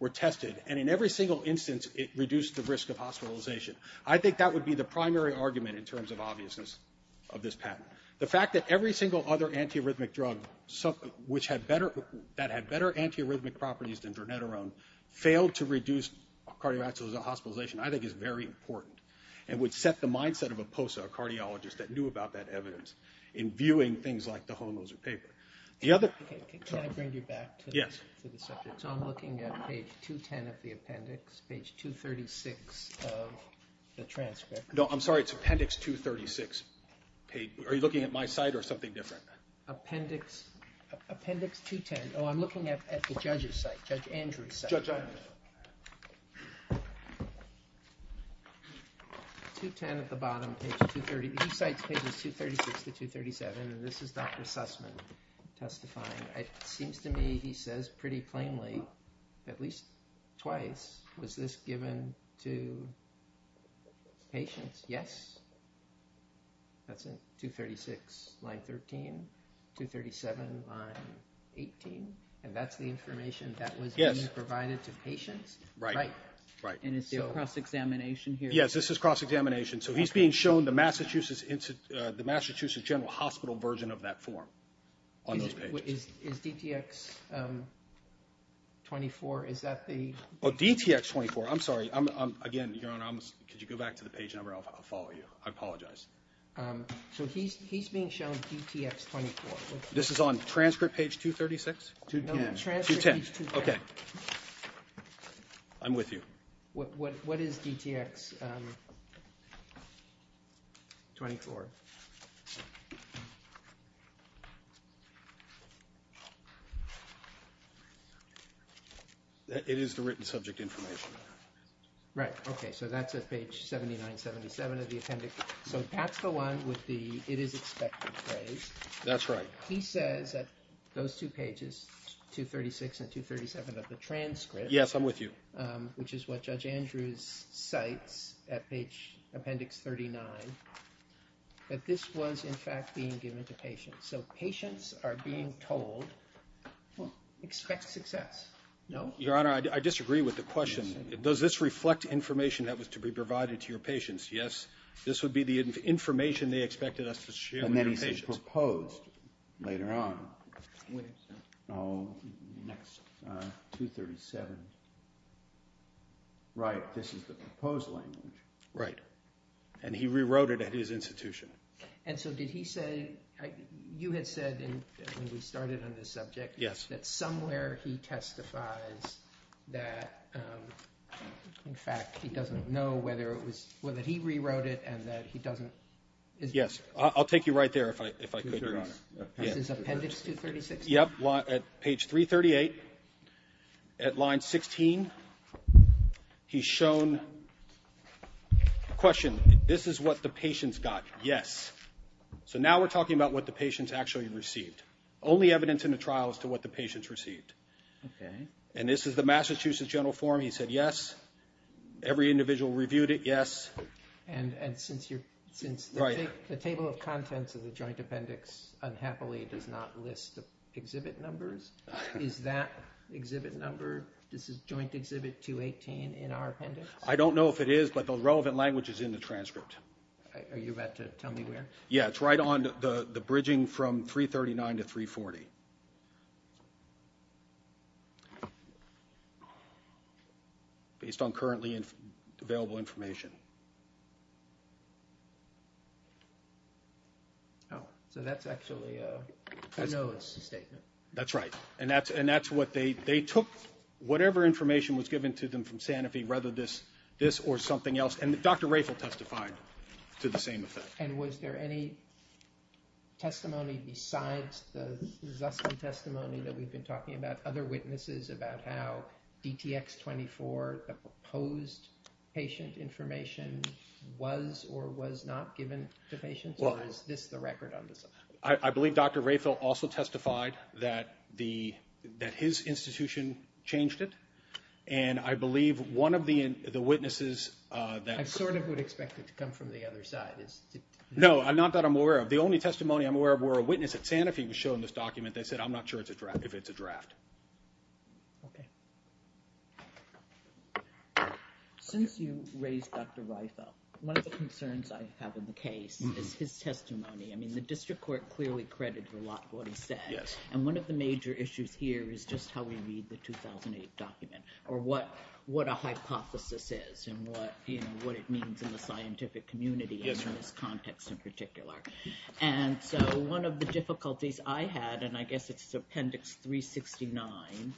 were tested and in every single instance it reduced the risk of hospitalization. I think that would be the primary argument in terms of obviousness of this patent. The fact that every single other antiarrhythmic drug that had better antiarrhythmic properties than dronetarone failed to reduce cardiovascular hospitalization I think is very important and would set the mindset of a POSA, a cardiologist that knew about that evidence, in viewing things like the homeloser paper. Can I bring you back to the subject? Yes. So I'm looking at page 210 of the appendix, page 236 of the transcript. No, I'm sorry, it's appendix 236. Are you looking at my site or something different? Appendix 210. Oh, I'm looking at the judge's site, Judge Andrew's site. 210 at the bottom, page 230. He cites pages 236 to 237, and this is Dr. Sussman testifying. It seems to me he says pretty plainly, at least twice, was this given to patients? Yes? That's it, 236, line 13. 237, line 18. And that's the information that was being provided to patients? Right. And is there a cross-examination here? Yes, this is cross-examination. So he's being shown the Massachusetts General Hospital version of that form on those pages. Is DTX 24, is that the? Oh, DTX 24, I'm sorry. Again, Your Honor, could you go back to the page number? I'll follow you. I apologize. So he's being shown DTX 24. This is on transcript page 236? No, transcript page 230. Okay. I'm with you. What is DTX 24? It is the written subject information. Right, okay. So that's at page 7977 of the appendix. So that's the one with the it is expected phrase. That's right. He says that those two pages, 236 and 237 of the transcript. Yes, I'm with you. Which is what Judge Andrews cites at page appendix 39. That this was, in fact, being given to patients. So patients are being told, expect success. No? Your Honor, I disagree with the question. Does this reflect information that was to be provided to your patients? Yes, this would be the information they expected us to share with your patients. And then he says proposed later on. When is that? Oh, next slide. 237. Right, this is the proposed language. Right. And he rewrote it at his institution. And so did he say, you had said when we started on this subject. Yes. That somewhere he testifies that, in fact, he doesn't know whether it was, whether he rewrote it and that he doesn't. Yes, I'll take you right there if I could, Your Honor. Is this appendix 236? Yes, at page 338. At line 16, he's shown a question. This is what the patients got. Yes. So now we're talking about what the patients actually received. Only evidence in the trial as to what the patients received. Okay. And this is the Massachusetts General Forum. He said yes. Every individual reviewed it, yes. And since the table of contents of the joint appendix unhappily does not list the exhibit numbers, is that exhibit number, this is joint exhibit 218 in our appendix? I don't know if it is, but the relevant language is in the transcript. Are you about to tell me where? Yes, it's right on the bridging from 339 to 340. Based on currently available information. Oh, so that's actually a NOAA statement. That's right. And that's what they took. Whatever information was given to them from Sanofi, rather this or something else, and Dr. Rafel testified to the same effect. And was there any testimony besides the Zusman testimony that we've been talking about, other witnesses about how DTX-24, the proposed patient information, was or was not given to patients? Or is this the record on this? I believe Dr. Rafel also testified that his institution changed it. And I believe one of the witnesses that – I sort of would expect it to come from the other side. No, not that I'm aware of. The only testimony I'm aware of where a witness at Sanofi was shown this document that said, I'm not sure if it's a draft. Okay. Since you raised Dr. Rafel, one of the concerns I have in the case is his testimony. I mean, the district court clearly credited a lot of what he said. Yes. And one of the major issues here is just how we read the 2008 document or what a hypothesis is and what, you know, what it means in the scientific community in this context in particular. And so one of the difficulties I had, and I guess it's Appendix 369,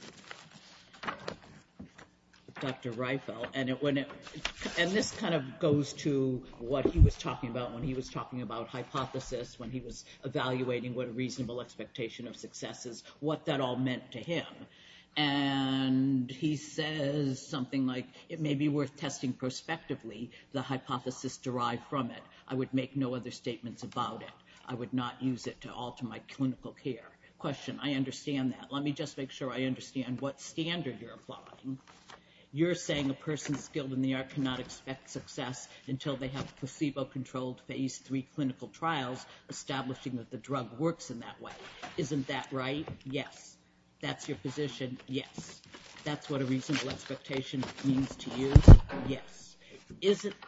Dr. Rafel, and this kind of goes to what he was talking about when he was talking about hypothesis, when he was evaluating what a reasonable expectation of success is, what that all meant to him. And he says something like, it may be worth testing prospectively the hypothesis derived from it. I would make no other statements about it. I would not use it to alter my clinical care. Question, I understand that. Let me just make sure I understand what standard you're applying. You're saying a person skilled in the art cannot expect success until they have placebo-controlled phase three clinical trials, establishing that the drug works in that way. Isn't that right? Yes. That's your position? Yes. That's what a reasonable expectation means to you? Yes.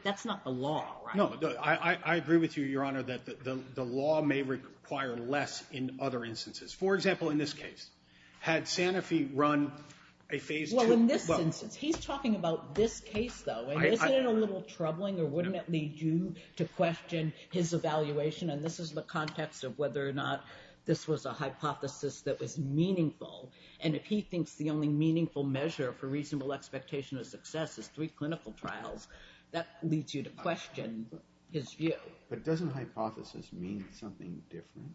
That's not the law, right? No, I agree with you, Your Honor, that the law may require less in other instances. For example, in this case, had Sanofi run a phase two. Well, in this instance, he's talking about this case, though, and isn't it a little troubling, or wouldn't it lead you to question his evaluation? And this is the context of whether or not this was a hypothesis that was meaningful, and if he thinks the only meaningful measure for reasonable expectation of success is three clinical trials, that leads you to question his view. But doesn't hypothesis mean something different?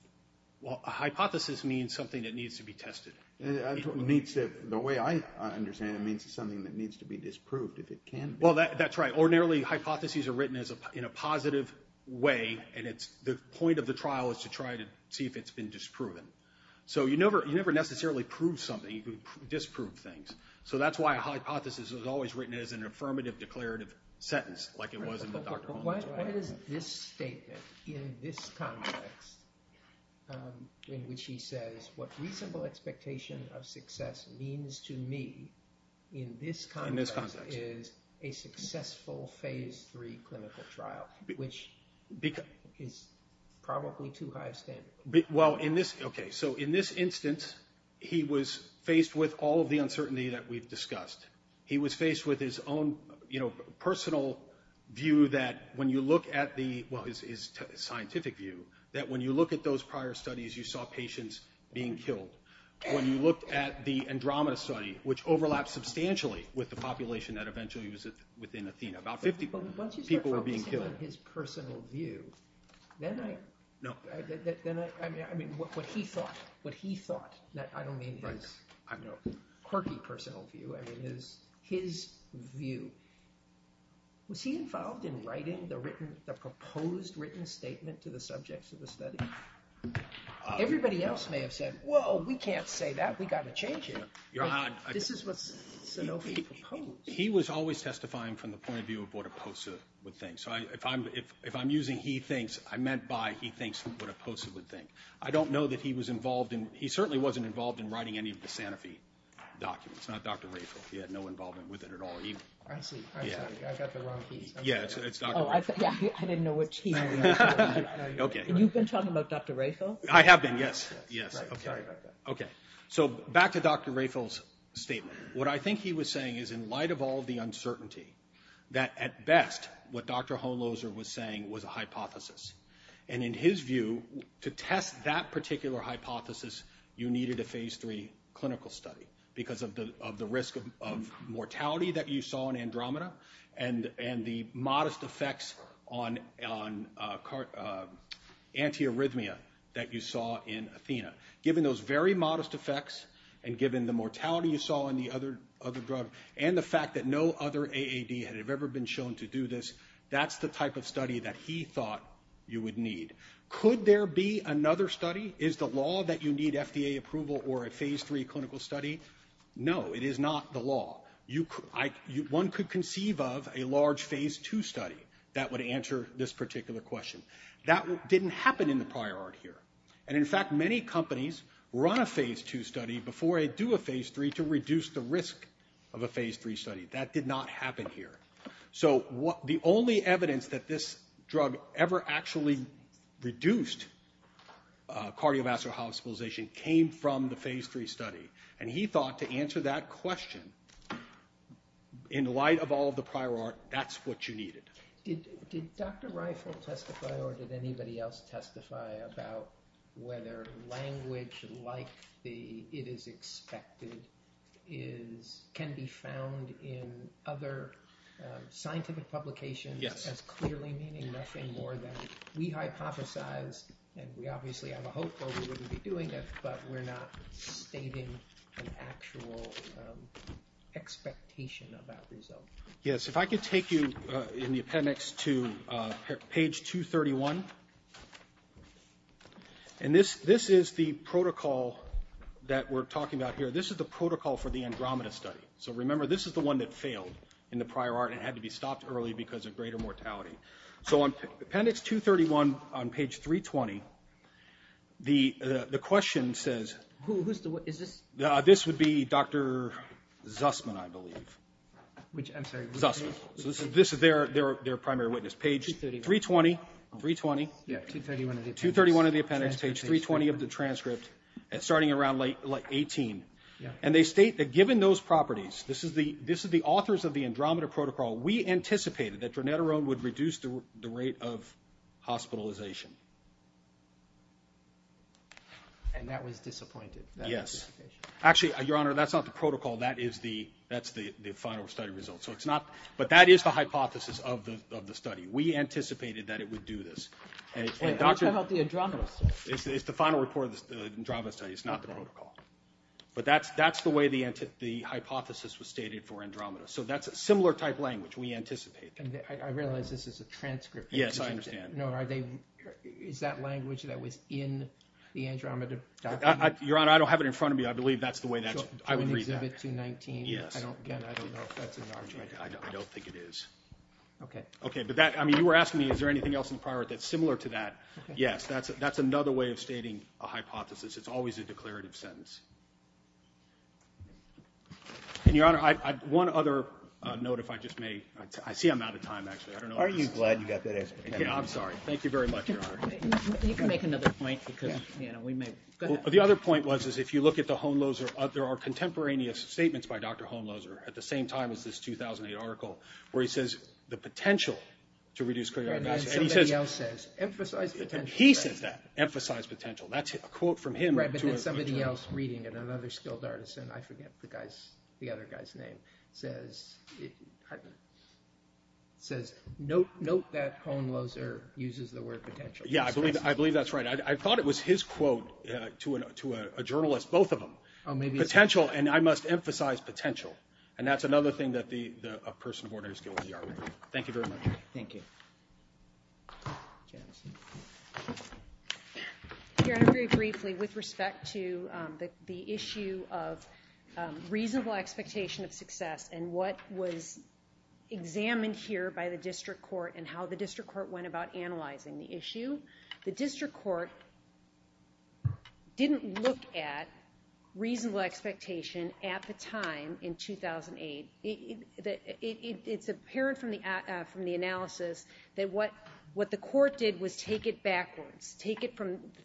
Well, a hypothesis means something that needs to be tested. The way I understand it means it's something that needs to be disproved, if it can be. Well, that's right. Ordinarily, hypotheses are written in a positive way, and the point of the trial is to try to see if it's been disproven. So you never necessarily prove something. You disprove things. So that's why a hypothesis is always written as an affirmative, declarative sentence, like it was in the Dr. Holmes case. But what is this statement, in this context, in which he says, what reasonable expectation of success means to me, in this context, is a successful phase three clinical trial, which is probably too high a standard. Well, okay, so in this instance, he was faced with all of the uncertainty that we've discussed. He was faced with his own personal view that when you look at the – well, his scientific view – that when you look at those prior studies, you saw patients being killed. When you looked at the Andromeda study, which overlaps substantially with the population that eventually was within Athena, about 50 people were being killed. But once you start focusing on his personal view, then I – No. I mean, what he thought. What he thought. I don't mean his quirky personal view. I mean his view. Was he involved in writing the written – the proposed written statement to the subjects of the study? Everybody else may have said, well, we can't say that. We've got to change it. This is what Sanofi proposed. He was always testifying from the point of view of what a poster would think. So if I'm using he thinks, I meant by he thinks what a poster would think. I don't know that he was involved in – he certainly wasn't involved in writing any of the Sanofi documents. Not Dr. Raphael. He had no involvement with it at all either. I see. I got the wrong piece. Yeah. It's Dr. Raphael. I didn't know what he meant. Okay. You've been talking about Dr. Raphael? I have been, yes. Yes. Okay. Sorry about that. Okay. So back to Dr. Raphael's statement. What I think he was saying is in light of all the uncertainty, that at best what Dr. Honloser was saying was a hypothesis. And in his view, to test that particular hypothesis, you needed a phase three clinical study because of the risk of mortality that you saw in Andromeda and the modest effects on antiarrhythmia that you saw in Athena. Given those very modest effects and given the mortality you saw in the other drug and the fact that no other AAD had ever been shown to do this, that's the type of study that he thought you would need. Could there be another study? Is the law that you need FDA approval or a phase three clinical study? No. It is not the law. One could conceive of a large phase two study that would answer this particular question. That didn't happen in the prior art here. And, in fact, many companies run a phase two study before they do a phase three to reduce the risk of a phase three study. That did not happen here. So the only evidence that this drug ever actually reduced cardiovascular hospitalization came from the phase three study. And he thought to answer that question, in light of all of the prior art, that's what you needed. Did Dr. Reifel testify or did anybody else testify about whether language like the it is expected can be found in other scientific publications as clearly meaning nothing more than we hypothesize and we obviously have a hope that we wouldn't be doing it, but we're not stating an actual expectation of that result. Yes, if I could take you in the appendix to page 231. And this is the protocol that we're talking about here. This is the protocol for the Andromeda study. So, remember, this is the one that failed in the prior art and had to be stopped early because of greater mortality. So appendix 231 on page 320, the question says... Who is this? This would be Dr. Zussman, I believe. I'm sorry. Zussman. So this is their primary witness. Page 320. Yeah, 231 of the appendix. Page 320 of the transcript, starting around like 18. And they state that given those properties, this is the authors of the Andromeda protocol, we anticipated that dronetarone would reduce the rate of hospitalization. And that was disappointed. Yes. Actually, Your Honor, that's not the protocol. That's the final study result. But that is the hypothesis of the study. We anticipated that it would do this. Wait, what about the Andromeda study? It's the final report of the Andromeda study. It's not the protocol. But that's the way the hypothesis was stated for Andromeda. So that's a similar type language. We anticipated that. I realize this is a transcript. Yes, I understand. No, is that language that was in the Andromeda document? Your Honor, I don't have it in front of me. But I believe that's the way that I would read that. Exhibit 219? Yes. Again, I don't know if that's an argument. I don't think it is. Okay. Okay, but that, I mean, you were asking me, is there anything else in the prior that's similar to that? Yes, that's another way of stating a hypothesis. It's always a declarative sentence. And, Your Honor, one other note, if I just may. I see I'm out of time, actually. Aren't you glad you got that answer? I'm sorry. Thank you very much, Your Honor. You can make another point because, you know, we may. The other point was, is if you look at the Hohenloser, there are contemporaneous statements by Dr. Hohenloser at the same time as this 2008 article where he says, the potential to reduce career adversity. And then somebody else says, emphasize potential. He says that. Emphasize potential. That's a quote from him to a journalist. Right, but then somebody else reading it, another skilled artisan, I forget the other guy's name, says, note that Hohenloser uses the word potential. Yeah, I believe that's right. I thought it was his quote to a journalist, both of them. Potential, and I must emphasize potential. And that's another thing that a person of ordinary skill in the art world. Thank you very much. Thank you. Your Honor, very briefly, with respect to the issue of reasonable expectation of success and what was examined here by the district court and how the district court went about analyzing the issue, the district court didn't look at reasonable expectation at the time in 2008. It's apparent from the analysis that what the court did was take it backwards, take it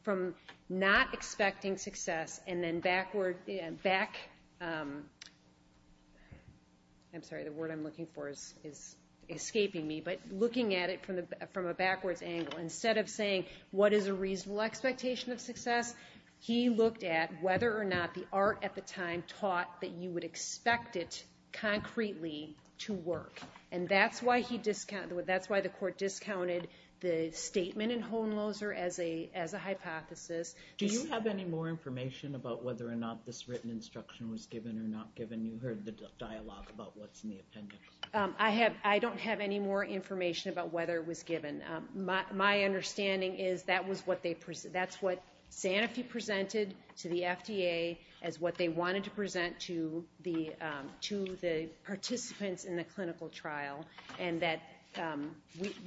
from not expecting success and then backward, back, I'm sorry, the word I'm looking for is escaping me, but looking at it from a backwards angle. Instead of saying what is a reasonable expectation of success, he looked at whether or not the art at the time taught that you would expect it concretely to work. And that's why the court discounted the statement in Hohenloser as a hypothesis. Do you have any more information about whether or not this written instruction was given or not given? You heard the dialogue about what's in the appendix. I don't have any more information about whether it was given. My understanding is that's what Santa Fe presented to the FDA as what they wanted to present to the participants in the clinical trial and that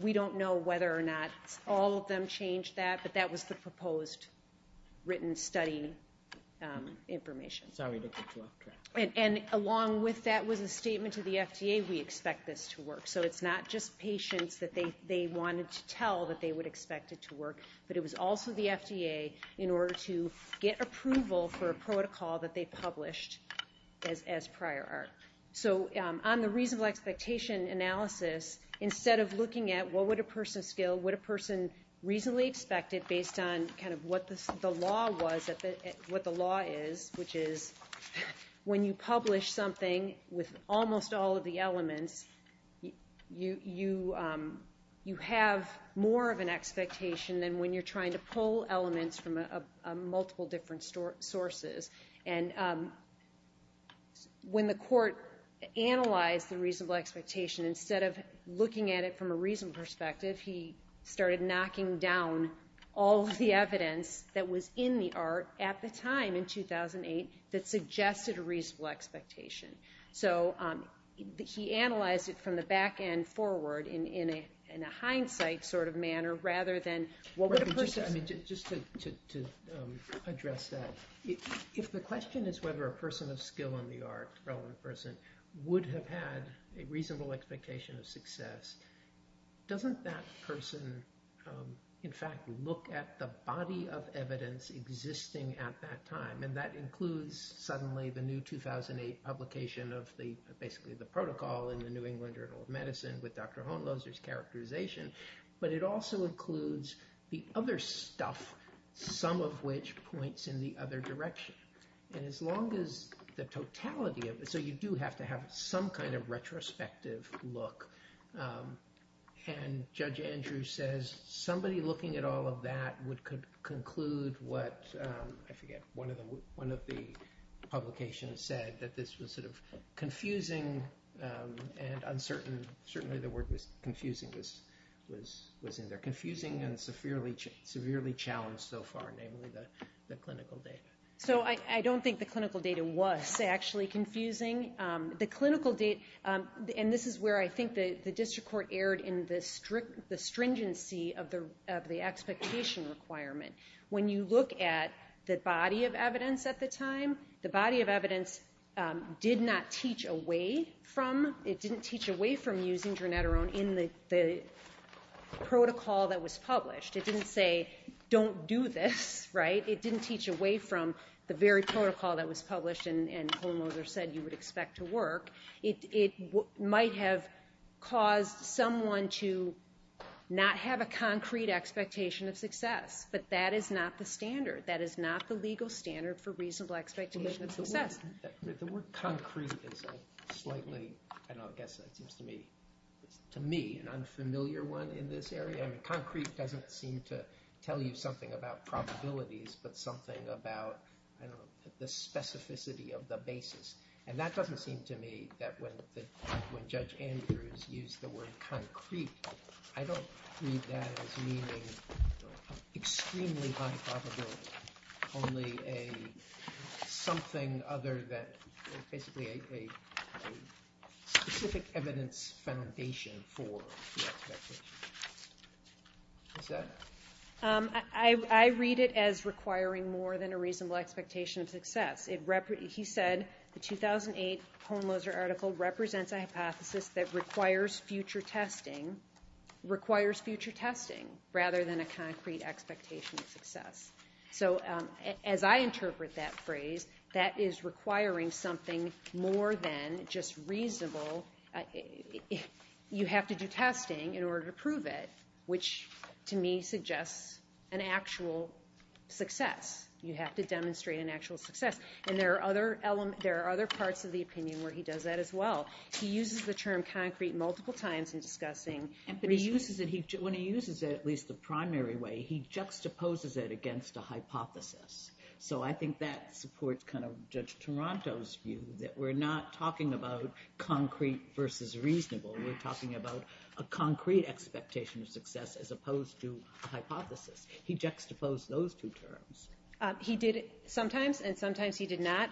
we don't know whether or not all of them changed that, but that was the proposed written study information. And along with that was a statement to the FDA, we expect this to work. So it's not just patients that they wanted to tell that they would expect it to work, but it was also the FDA in order to get approval for a protocol that they published as prior art. So on the reasonable expectation analysis, instead of looking at what would a person skill, would a person reasonably expect it based on kind of what the law is, which is when you publish something with almost all of the elements, you have more of an expectation than when you're trying to pull elements from multiple different sources. And when the court analyzed the reasonable expectation, instead of looking at it from a reason perspective, he started knocking down all of the evidence that was in the art at the time in 2008 that suggested a reasonable expectation. So he analyzed it from the back end forward in a hindsight sort of manner rather than what would a person... Just to address that, if the question is whether a person of skill in the art, a relevant person, would have had a reasonable expectation of success, doesn't that person, in fact, look at the body of evidence existing at that time, and that includes suddenly the new 2008 publication of basically the protocol in the New England Journal of Medicine with Dr. Hohenloser's characterization, but it also includes the other stuff, some of which points in the other direction. And as long as the totality of it... So you do have to have some kind of retrospective look. And Judge Andrews says somebody looking at all of that would conclude what, I forget, one of the publications said that this was sort of confusing and uncertain. Certainly the word confusing was in there. Confusing and severely challenged so far, namely the clinical data. So I don't think the clinical data was actually confusing. The clinical data... And this is where I think the district court erred in the stringency of the expectation requirement. When you look at the body of evidence at the time, the body of evidence did not teach away from... It didn't teach away from using dronetarone in the protocol that was published. It didn't say, don't do this, right? It didn't teach away from the very protocol that was published and Hohenloser said you would expect to work. It might have caused someone to not have a concrete expectation of success. But that is not the standard. That is not the legal standard for reasonable expectation of success. The word concrete is a slightly... I guess that seems to me an unfamiliar one in this area. Concrete doesn't seem to tell you something about probabilities but something about the specificity of the basis. And that doesn't seem to me that when Judge Andrews used the word concrete, I don't read that as meaning extremely high probability, only something other than basically a specific evidence foundation for the expectation. I read it as requiring more than a reasonable expectation of success. He said the 2008 Hohenloser article represents a hypothesis that requires future testing rather than a concrete expectation of success. So as I interpret that phrase, that is requiring something more than just reasonable... You have to do testing in order to prove it, which to me suggests an actual success. You have to demonstrate an actual success. And there are other parts of the opinion where he does that as well. He uses the term concrete multiple times in discussing... When he uses it, at least the primary way, he juxtaposes it against a hypothesis. So I think that supports Judge Toronto's view that we're not talking about concrete versus reasonable. We're talking about a concrete expectation of success as opposed to a hypothesis. He juxtaposed those two terms. He did it sometimes, and sometimes he did not.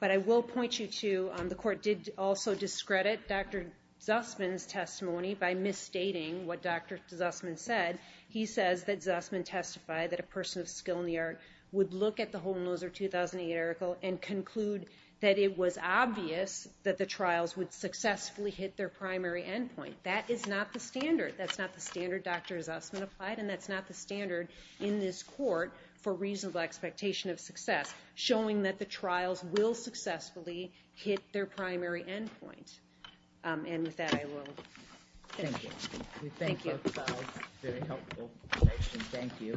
But I will point you to... The court did also discredit Dr. Zussman's testimony by misstating what Dr. Zussman said. He says that Zussman testified that a person of skill in the art would look at the Hohenloser 2008 article and conclude that it was obvious that the trials would successfully hit their primary endpoint. That is not the standard. That's not the standard Dr. Zussman applied, and that's not the standard in this court for reasonable expectation of success, showing that the trials will successfully hit their primary endpoint. And with that, I will... Thank you. Thank you. Thank you.